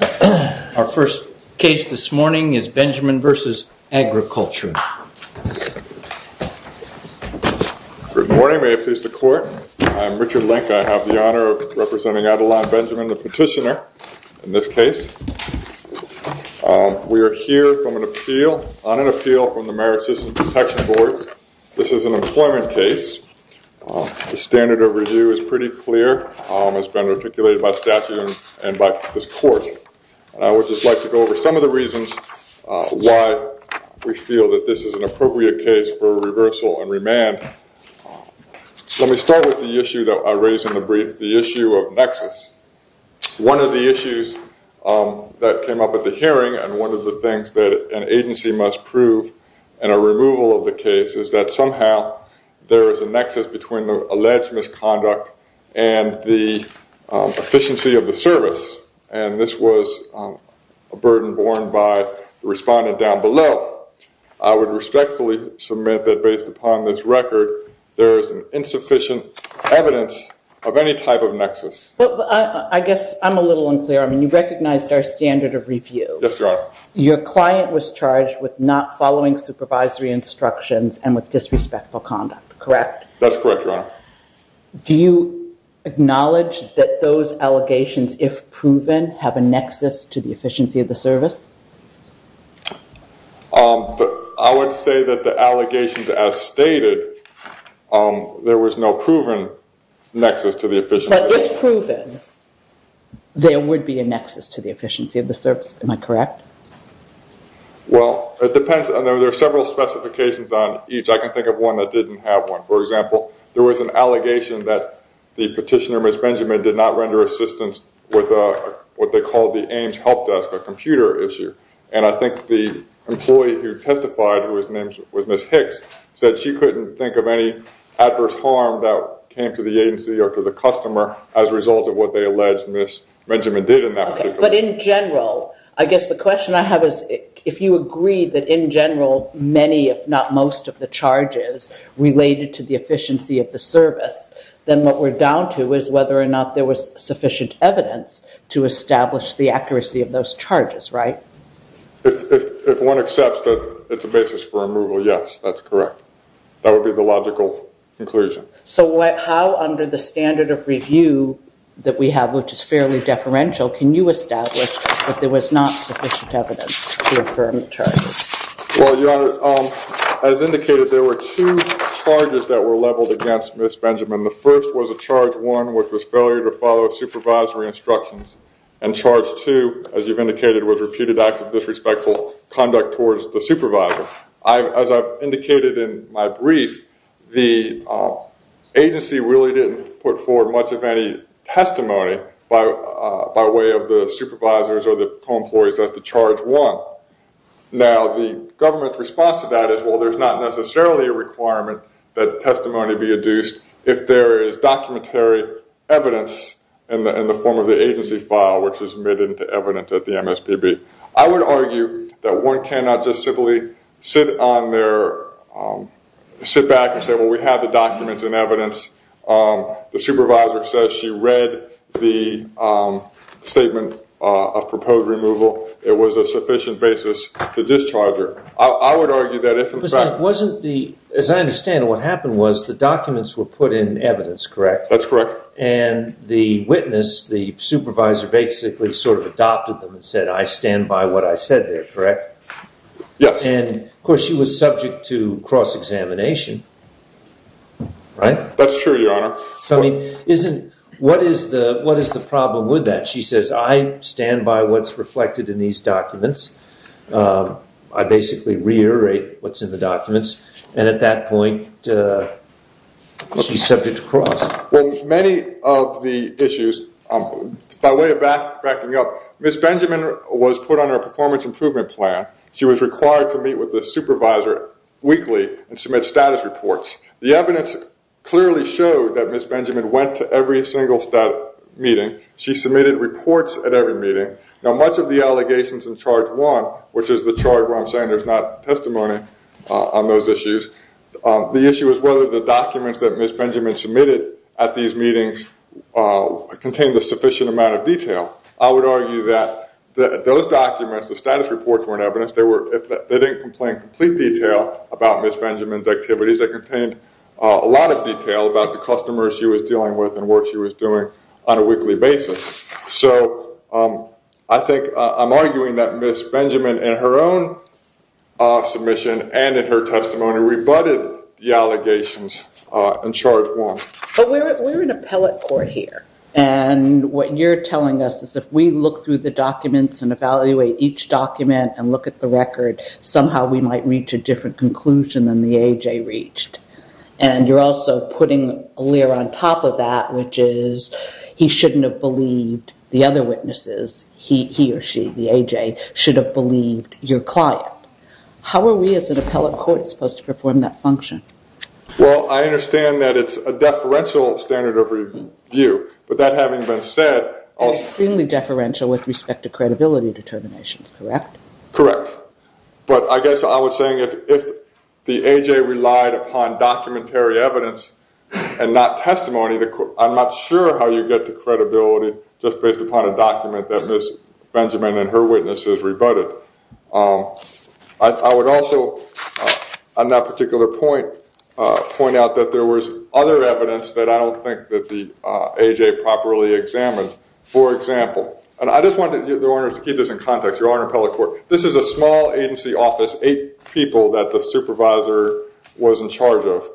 Our first case this morning is Benjamin v. Agriculture. Good morning. May it please the court. I'm Richard Link. I have the honor of representing Adeline Benjamin, the petitioner, in this case. We are here on an appeal from the Merit System Protection Board. This is an employment case. The standard of review is pretty clear. It's been articulated by statute and by this court. I would just like to go over some of the reasons why we feel that this is an appropriate case for reversal and remand. Let me start with the issue that I raised in the brief, the issue of nexus. One of the issues that came up at the hearing and one of the things that an agency must prove in a removal of the case is that somehow there is a nexus between the alleged misconduct and the efficiency of the service. This was a burden borne by the respondent down below. I would respectfully submit that based upon this record, there is insufficient evidence of any type of nexus. I guess I'm a little unclear. You recognized our standard of review. Your client was charged with not following supervisory instructions and with disrespectful conduct, correct? That's correct, Your Honor. Do you acknowledge that those allegations, if proven, have a nexus to the efficiency of the service? I would say that the allegations as stated, there was no proven nexus to the efficiency. But if proven, there would be a nexus to the efficiency of the service. Am I correct? Well, it depends. There are several specifications on each. I can think of one that didn't have one. For example, there was an allegation that the petitioner, Ms. Benjamin, did not render assistance with what they called the AIMS help desk, a computer issue. And I think the employee who testified, who was Ms. Hicks, said she couldn't think of any adverse harm that came to the agency or to the customer as a result of what they alleged Ms. Benjamin did in that particular case. But in general, I guess the question I have is if you agree that in general, many if not most of the charges related to the efficiency of the service, then what we're down to is whether or not there was sufficient evidence to establish the accuracy of those charges, right? If one accepts that it's a basis for removal, yes, that's correct. That would be the logical conclusion. So how under the standard of review that we have, which is fairly deferential, can you establish that there was not sufficient evidence to affirm the charges? Well, Your Honor, as indicated, there were two charges that were leveled against Ms. Benjamin. The first was a Charge 1, which was failure to follow supervisory instructions. And Charge 2, as you've indicated, was reputed acts of disrespectful conduct towards the supervisor. As I've indicated in my brief, the agency really didn't put forward much of any testimony by way of the supervisors or the co-employees at the Charge 1. Now the government's response to that is, well, there's not necessarily a requirement that testimony be adduced if there is documentary evidence in the form of the agency file, which is made into evidence at the MSPB. I would argue that one cannot just simply sit back and say, well, we have the documents and evidence. The supervisor says she read the statement of proposed removal. It was a sufficient basis to discharge her. I would argue that if, in fact— As I understand it, what happened was the documents were put in evidence, correct? That's correct. And the witness, the supervisor, basically sort of adopted them and said, I stand by what I said there, correct? Yes. And, of course, she was subject to cross-examination, right? That's true, Your Honor. What is the problem with that? She says, I stand by what's reflected in these documents. I basically reiterate what's in the documents. And at that point, she's subject to cross. Well, many of the issues, by way of backing up, Ms. Benjamin was put under a performance improvement plan. She was required to meet with the supervisor weekly and submit status reports. The evidence clearly showed that Ms. Benjamin went to every single meeting. She submitted reports at every meeting. Now, much of the allegations in Charge 1, which is the charge where I'm saying there's not testimony on those issues, the issue is whether the documents that Ms. Benjamin submitted at these meetings contained a sufficient amount of detail. I would argue that those documents, the status reports, were in evidence. They didn't contain complete detail about Ms. Benjamin's activities. They contained a lot of detail about the customers she was dealing with and what she was doing on a weekly basis. So I think I'm arguing that Ms. Benjamin, in her own submission and in her testimony, rebutted the allegations in Charge 1. But we're in appellate court here. And what you're telling us is if we look through the documents and evaluate each document and look at the record, somehow we might reach a different conclusion than the A.J. reached. And you're also putting a layer on top of that, which is he shouldn't have believed the other witnesses. He or she, the A.J., should have believed your client. How are we as an appellate court supposed to perform that function? Well, I understand that it's a deferential standard of review. But that having been said... Extremely deferential with respect to credibility determinations, correct? Correct. But I guess I was saying if the A.J. relied upon documentary evidence and not testimony, I'm not sure how you get to credibility just based upon a document that Ms. Benjamin and her witnesses rebutted. I would also, on that particular point, point out that there was other evidence that I don't think that the A.J. properly examined. For example, and I just want the owners to keep this in context, your Honor Appellate Court, this is a small agency office, eight people that the supervisor was in charge of.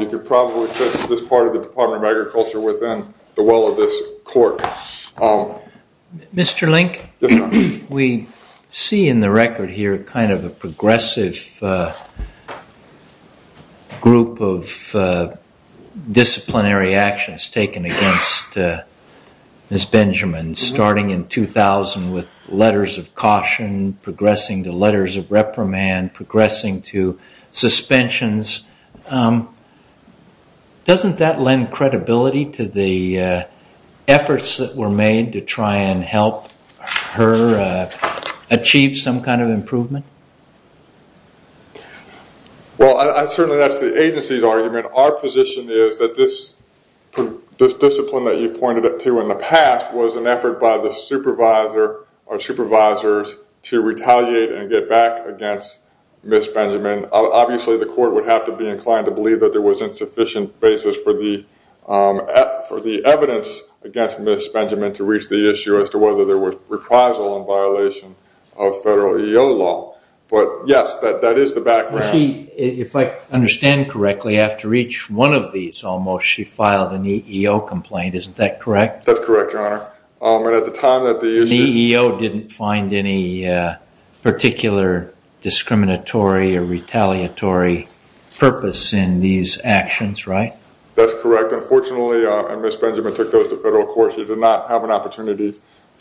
You could probably fit this part of the Department of Agriculture within the well of this court. Mr. Link, we see in the record here kind of a progressive group of disciplinary actions taken against Ms. Benjamin, starting in 2000 with letters of caution, progressing to letters of reprimand, progressing to suspensions. Doesn't that lend credibility to the efforts that were made to try and help her achieve some kind of improvement? Well, certainly that's the agency's argument. Our position is that this discipline that you pointed to in the past was an effort by the supervisor or supervisors to retaliate and get back against Ms. Benjamin. Obviously, the court would have to be inclined to believe that there was insufficient basis for the evidence against Ms. Benjamin to reach the issue as to whether there was reprisal in violation of federal EEO law. But yes, that is the background. If I understand correctly, after each one of these almost, she filed an EEO complaint. That's correct, Your Honor. The EEO didn't find any particular discriminatory or retaliatory purpose in these actions, right? That's correct. Unfortunately, Ms. Benjamin took those to federal court. She did not have an opportunity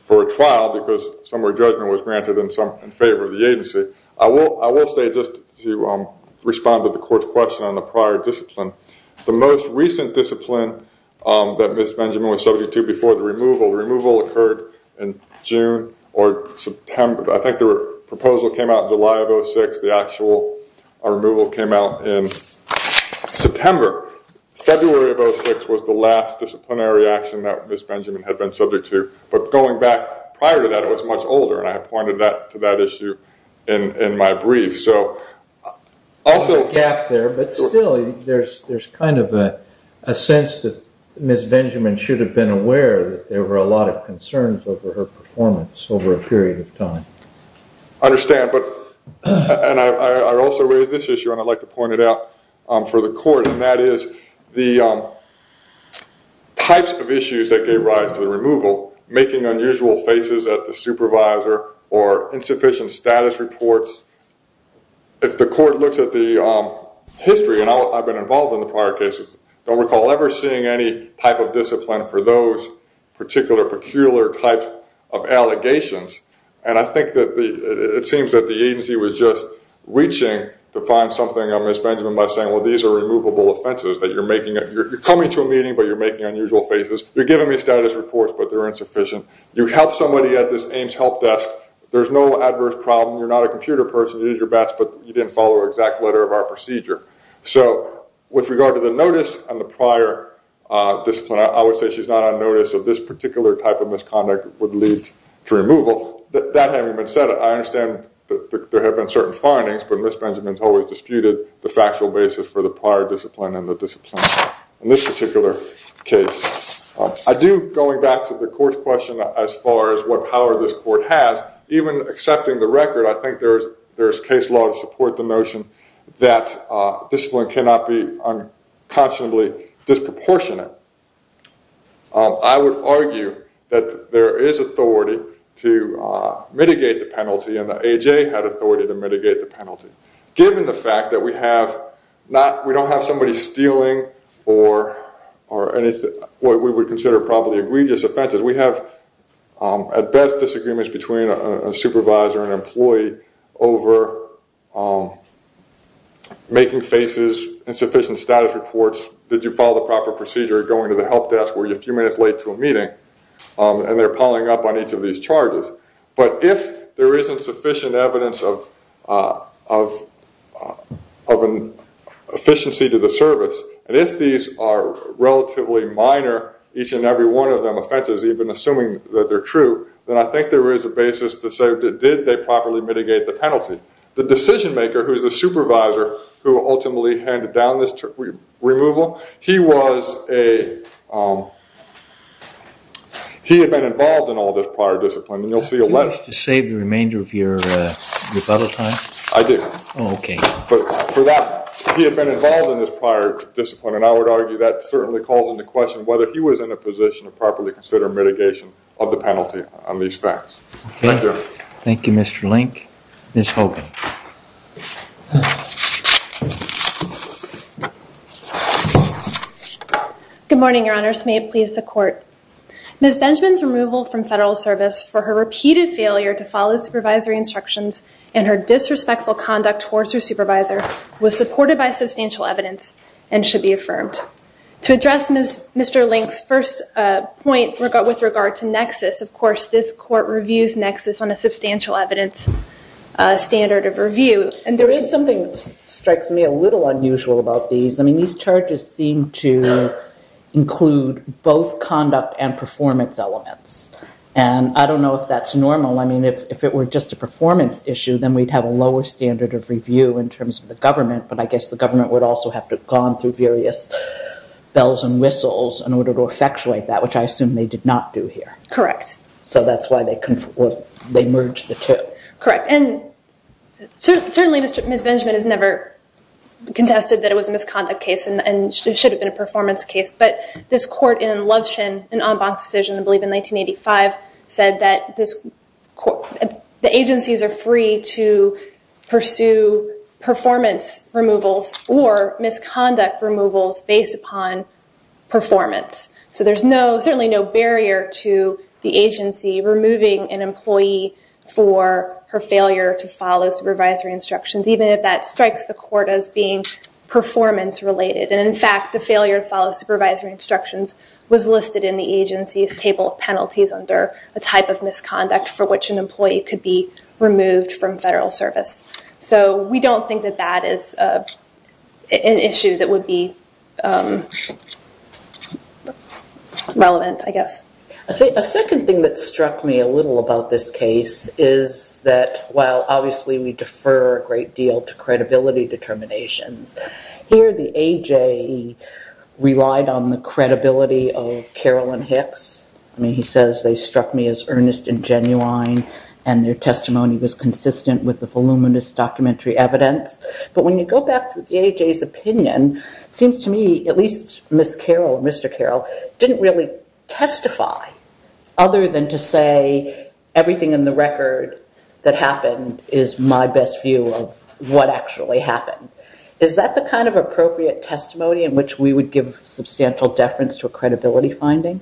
for a trial because some of her judgment was granted in favor of the agency. I will say just to respond to the court's question on the prior discipline, the most recent discipline that Ms. Benjamin was subject to before the removal. The removal occurred in June or September. I think the proposal came out in July of 2006. The actual removal came out in September. February of 2006 was the last disciplinary action that Ms. Benjamin had been subject to. But going back prior to that, it was much older, and I pointed to that issue in my brief. There's a gap there, but still, there's kind of a sense that Ms. Benjamin should have been aware that there were a lot of concerns over her performance over a period of time. I understand, but I also raised this issue, and I'd like to point it out for the court, and that is the types of issues that gave rise to the removal, making unusual faces at the supervisor or insufficient status reports. If the court looks at the history, and I've been involved in the prior cases, don't recall ever seeing any type of discipline for those particular, peculiar types of allegations. And I think that it seems that the agency was just reaching to find something on Ms. Benjamin by saying, well, these are removable offenses. You're coming to a meeting, but you're making unusual faces. You're giving me status reports, but they're insufficient. You help somebody at this AIMS help desk. There's no adverse problem. You're not a computer person. You did your best, but you didn't follow the exact letter of our procedure. So with regard to the notice and the prior discipline, I would say she's not on notice of this particular type of misconduct would lead to removal. That having been said, I understand that there have been certain findings, but Ms. Benjamin's always disputed the factual basis for the prior discipline and the discipline. In this particular case, I do, going back to the court's question as far as what power this court has, even accepting the record, I think there's case law to support the notion that discipline cannot be unconscionably disproportionate. I would argue that there is authority to mitigate the penalty, given the fact that we don't have somebody stealing or what we would consider probably egregious offenses. We have, at best, disagreements between a supervisor and employee over making faces, insufficient status reports, did you follow the proper procedure, going to the help desk, were you a few minutes late to a meeting, and they're piling up on each of these charges. But if there isn't sufficient evidence of efficiency to the service, and if these are relatively minor, each and every one of them offenses, even assuming that they're true, then I think there is a basis to say, did they properly mitigate the penalty? The decision maker, who is the supervisor who ultimately handed down this removal, he was a, he had been involved in all this prior discipline, and you'll see a letter. Did you wish to save the remainder of your rebuttal time? I did. Oh, okay. But for that, he had been involved in this prior discipline, and I would argue that certainly calls into question whether he was in a position to properly consider mitigation of the penalty on these facts. Thank you. Thank you, Mr. Link. Ms. Hogan. Good morning, Your Honors. May it please the Court. Ms. Benjamin's removal from federal service for her repeated failure to follow supervisory instructions and her disrespectful conduct towards her supervisor was supported by substantial evidence and should be affirmed. To address Mr. Link's first point with regard to nexus, of course, this Court reviews nexus on a substantial evidence standard of review. And there is something that strikes me a little unusual about these. I mean, these charges seem to include both conduct and performance elements, and I don't know if that's normal. I mean, if it were just a performance issue, then we'd have a lower standard of review in terms of the government, but I guess the government would also have to have gone through various bells and whistles in order to effectuate that, which I assume they did not do here. Correct. So that's why they merged the two. Correct. And certainly Ms. Benjamin has never contested that it was a misconduct case and it should have been a performance case, but this court in Lovshin, an en banc decision, I believe in 1985, said that the agencies are free to pursue performance removals or misconduct removals based upon performance. So there's certainly no barrier to the agency removing an employee for her failure to follow supervisory instructions, even if that strikes the court as being performance related. And in fact, the failure to follow supervisory instructions was listed in the agency's table of penalties under a type of misconduct for which an employee could be removed from federal service. So we don't think that that is an issue that would be relevant, I guess. A second thing that struck me a little about this case is that while obviously we defer a great deal to credibility determinations, here the AJ relied on the credibility of Carolyn Hicks. I mean, he says they struck me as earnest and genuine and their testimony was consistent with the voluminous documentary evidence, but when you go back to the AJ's opinion, it seems to me at least Ms. Carroll and Mr. Carroll didn't really testify other than to say everything in the record that happened is my best view of what actually happened. Is that the kind of appropriate testimony in which we would give substantial deference to a credibility finding?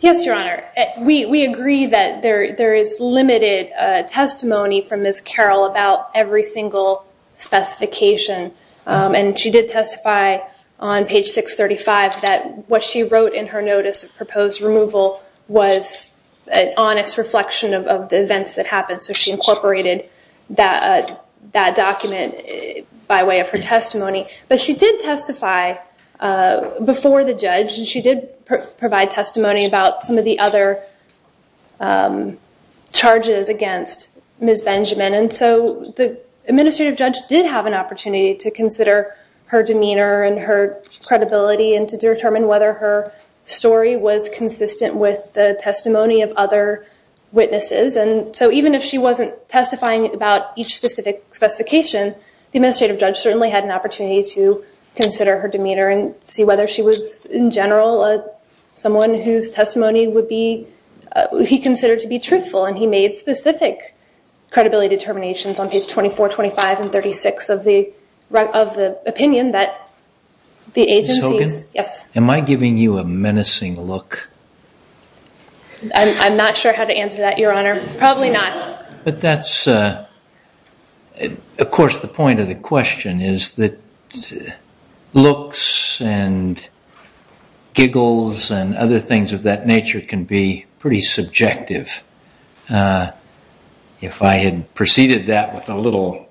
Yes, Your Honor. We agree that there is limited testimony from Ms. Carroll about every single specification. And she did testify on page 635 that what she wrote in her notice of proposed removal was an honest reflection of the events that happened. So she incorporated that document by way of her testimony. But she did testify before the judge and she did provide testimony about some of the other charges against Ms. Benjamin. And so the administrative judge did have an opportunity to consider her demeanor and her credibility and to determine whether her story was consistent with the testimony of other witnesses. And so even if she wasn't testifying about each specific specification, the administrative judge certainly had an opportunity to consider her demeanor and see whether she was, in general, someone whose testimony would be, he considered to be truthful. And he made specific credibility determinations on page 24, 25, and 36 of the opinion that the agencies... Ms. Hogan? Yes. Am I giving you a menacing look? I'm not sure how to answer that, Your Honor. Probably not. But that's, of course, the point of the question is that looks and giggles and other things of that nature can be pretty subjective. If I had preceded that with a little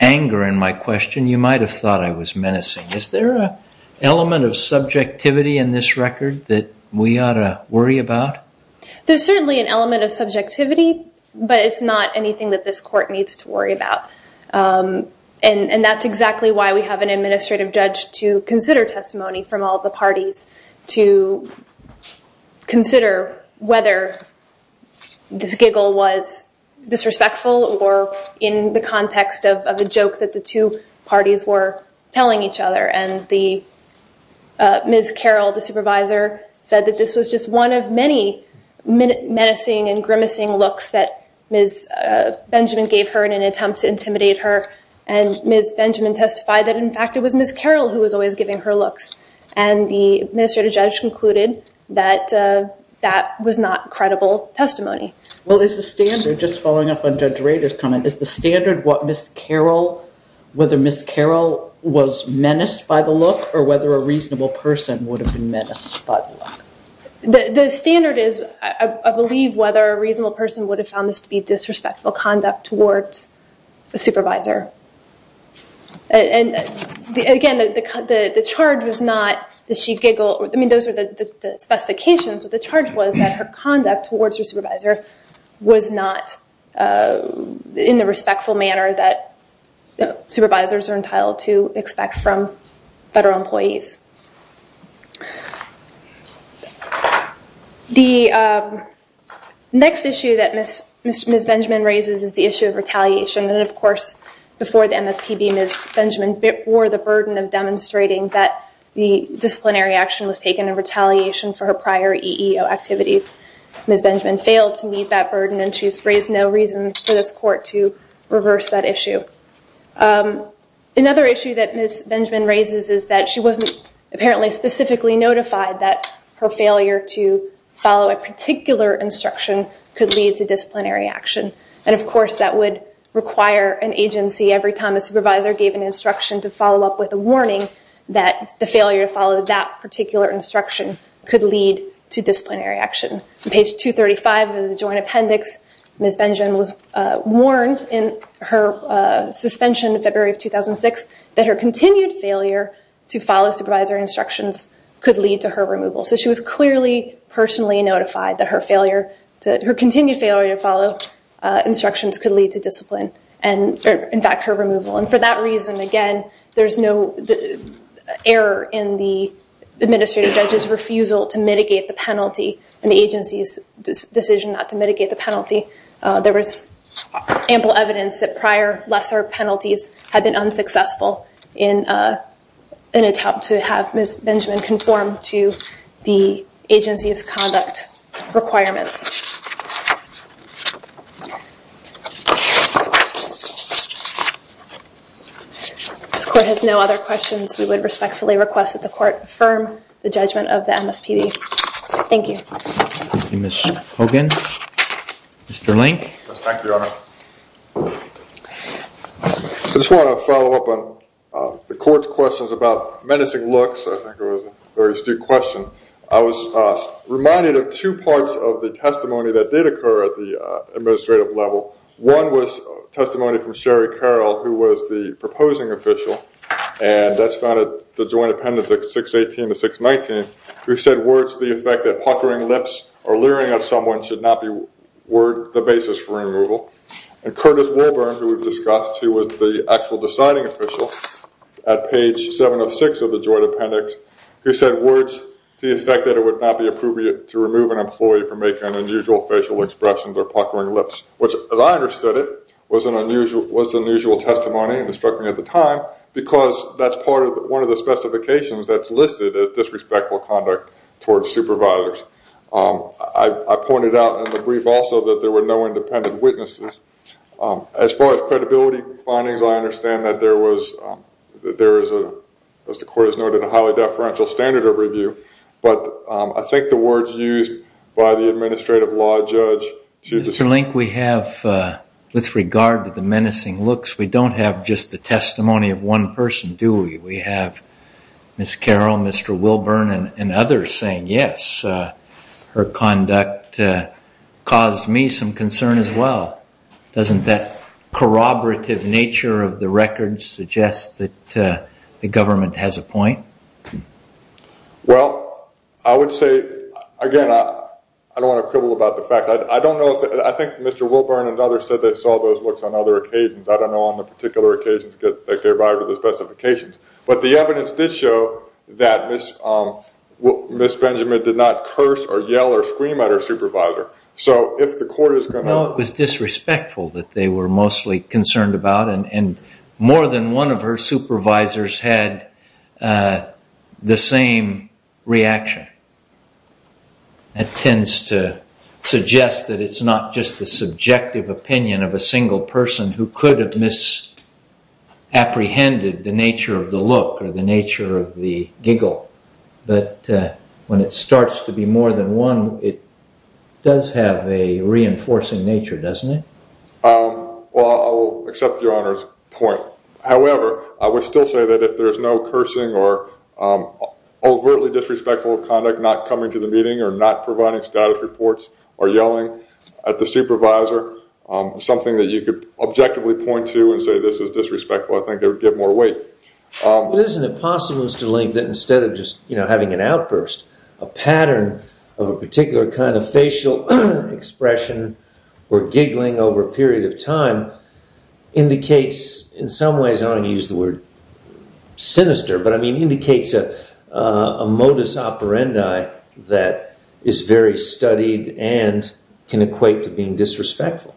anger in my question, you might have thought I was menacing. Is there an element of subjectivity in this record that we ought to worry about? There's certainly an element of subjectivity, but it's not anything that this court needs to worry about. And that's exactly why we have an administrative judge to consider testimony from all the parties, to consider whether the giggle was disrespectful or in the context of a joke that the two parties were telling each other. And Ms. Carroll, the supervisor, said that this was just one of many menacing and grimacing looks that Ms. Benjamin gave her in an attempt to intimidate her. And Ms. Benjamin testified that, in fact, it was Ms. Carroll who was always giving her looks. And the administrative judge concluded that that was not credible testimony. Well, is the standard, just following up on Judge Rader's comment, is the standard whether Ms. Carroll was menaced by the look or whether a reasonable person would have been menaced by the look? The standard is, I believe, whether a reasonable person would have found this to be disrespectful conduct towards the supervisor. And again, the charge was not that she giggled. I mean, those were the specifications, but the charge was that her conduct towards her supervisor was not in the respectful manner that supervisors are entitled to expect from federal employees. The next issue that Ms. Benjamin raises is the issue of retaliation. And, of course, before the MSPB, Ms. Benjamin bore the burden of demonstrating that the disciplinary action was taken in retaliation for her prior EEO activity. Ms. Benjamin failed to meet that burden, and she's raised no reason for this court to reverse that issue. Another issue that Ms. Benjamin raises is that she wasn't apparently specifically notified that her failure to follow a particular instruction could lead to disciplinary action. And, of course, that would require an agency, every time a supervisor gave an instruction to follow up with a warning, that the failure to follow that particular instruction could lead to disciplinary action. On page 235 of the Joint Appendix, Ms. Benjamin was warned in her suspension in February of 2006 that her continued failure to follow supervisory instructions could lead to her removal. So she was clearly personally notified that her continued failure to follow instructions could lead to discipline and, in fact, her removal. And for that reason, again, there's no error in the administrative judge's refusal to mitigate the penalty and the agency's decision not to mitigate the penalty. There was ample evidence that prior lesser penalties had been unsuccessful in an attempt to have Ms. Benjamin conform to the agency's conduct requirements. This Court has no other questions. We would respectfully request that the Court affirm the judgment of the MFPB. Thank you. Thank you, Ms. Hogan. Mr. Link. Yes, thank you, Your Honor. I just want to follow up on the Court's questions about menacing looks. I think it was a very astute question. at the administrative level. One was testimony from Sherry Carroll, who was the proposing official, and that's found at the Joint Appendix 618 to 619, who said words to the effect that puckering lips or leering at someone should not be the basis for removal. And Curtis Wolburn, who we've discussed, who was the actual deciding official at page 706 of the Joint Appendix, who said words to the effect that it would not be appropriate to remove an employee from making an unusual facial expression or puckering lips, which, as I understood it, was an unusual testimony and it struck me at the time because that's part of one of the specifications that's listed as disrespectful conduct towards supervisors. I pointed out in the brief also that there were no independent witnesses. As far as credibility findings, I understand that there was, as the Court has noted, a highly deferential standard of review, but I think the words used by the administrative law judge should be- Mr. Link, we have, with regard to the menacing looks, we don't have just the testimony of one person, do we? We have Ms. Carroll, Mr. Wolburn, and others saying, yes, her conduct caused me some concern as well. Doesn't that corroborative nature of the records suggest that the government has a point? Well, I would say, again, I don't want to quibble about the facts. I don't know if- I think Mr. Wolburn and others said they saw those looks on other occasions. I don't know on the particular occasions that they arrived at the specifications. But the evidence did show that Ms. Benjamin did not curse or yell or scream at her supervisor. No, it was disrespectful that they were mostly concerned about, and more than one of her supervisors had the same reaction. That tends to suggest that it's not just the subjective opinion of a single person who could have misapprehended the nature of the look or the nature of the giggle. But when it starts to be more than one, it does have a reinforcing nature, doesn't it? Well, I'll accept Your Honor's point. However, I would still say that if there's no cursing or overtly disrespectful conduct, not coming to the meeting or not providing status reports or yelling at the supervisor, something that you could objectively point to and say this is disrespectful, I think it would give more weight. Isn't it possible, Mr. Link, that instead of just having an outburst, a pattern of a particular kind of facial expression or giggling over a period of time indicates in some ways, I don't want to use the word sinister, but I mean indicates a modus operandi that is very studied and can equate to being disrespectful?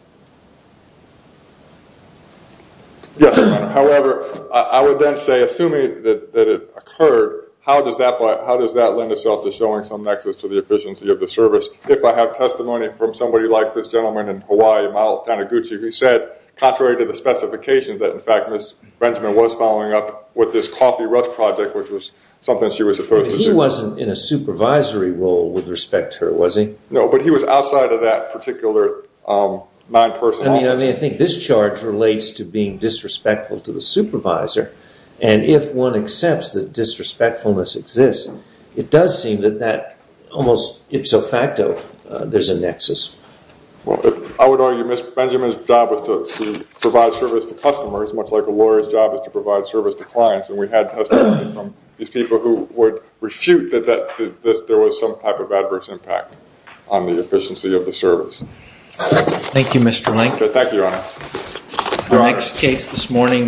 Yes, Your Honor. However, I would then say, assuming that it occurred, how does that lend itself to showing some nexus to the efficiency of the service if I have testimony from somebody like this gentleman in Hawaii, Miles Taniguchi, who said, contrary to the specifications, that in fact Ms. Benjamin was following up with this coffee rust project, which was something she was supposed to do. He wasn't in a supervisory role with respect to her, was he? No, but he was outside of that particular nine-person office. I mean, I think this charge relates to being disrespectful to the supervisor, and if one accepts that disrespectfulness exists, it does seem that that almost ipso facto, there's a nexus. I would argue Ms. Benjamin's job was to provide service to customers, much like a lawyer's job is to provide service to clients, and we had testimony from these people who would refute that there was some type of adverse impact on the efficiency of the service. Thank you, Mr. Link. Thank you, Your Honor.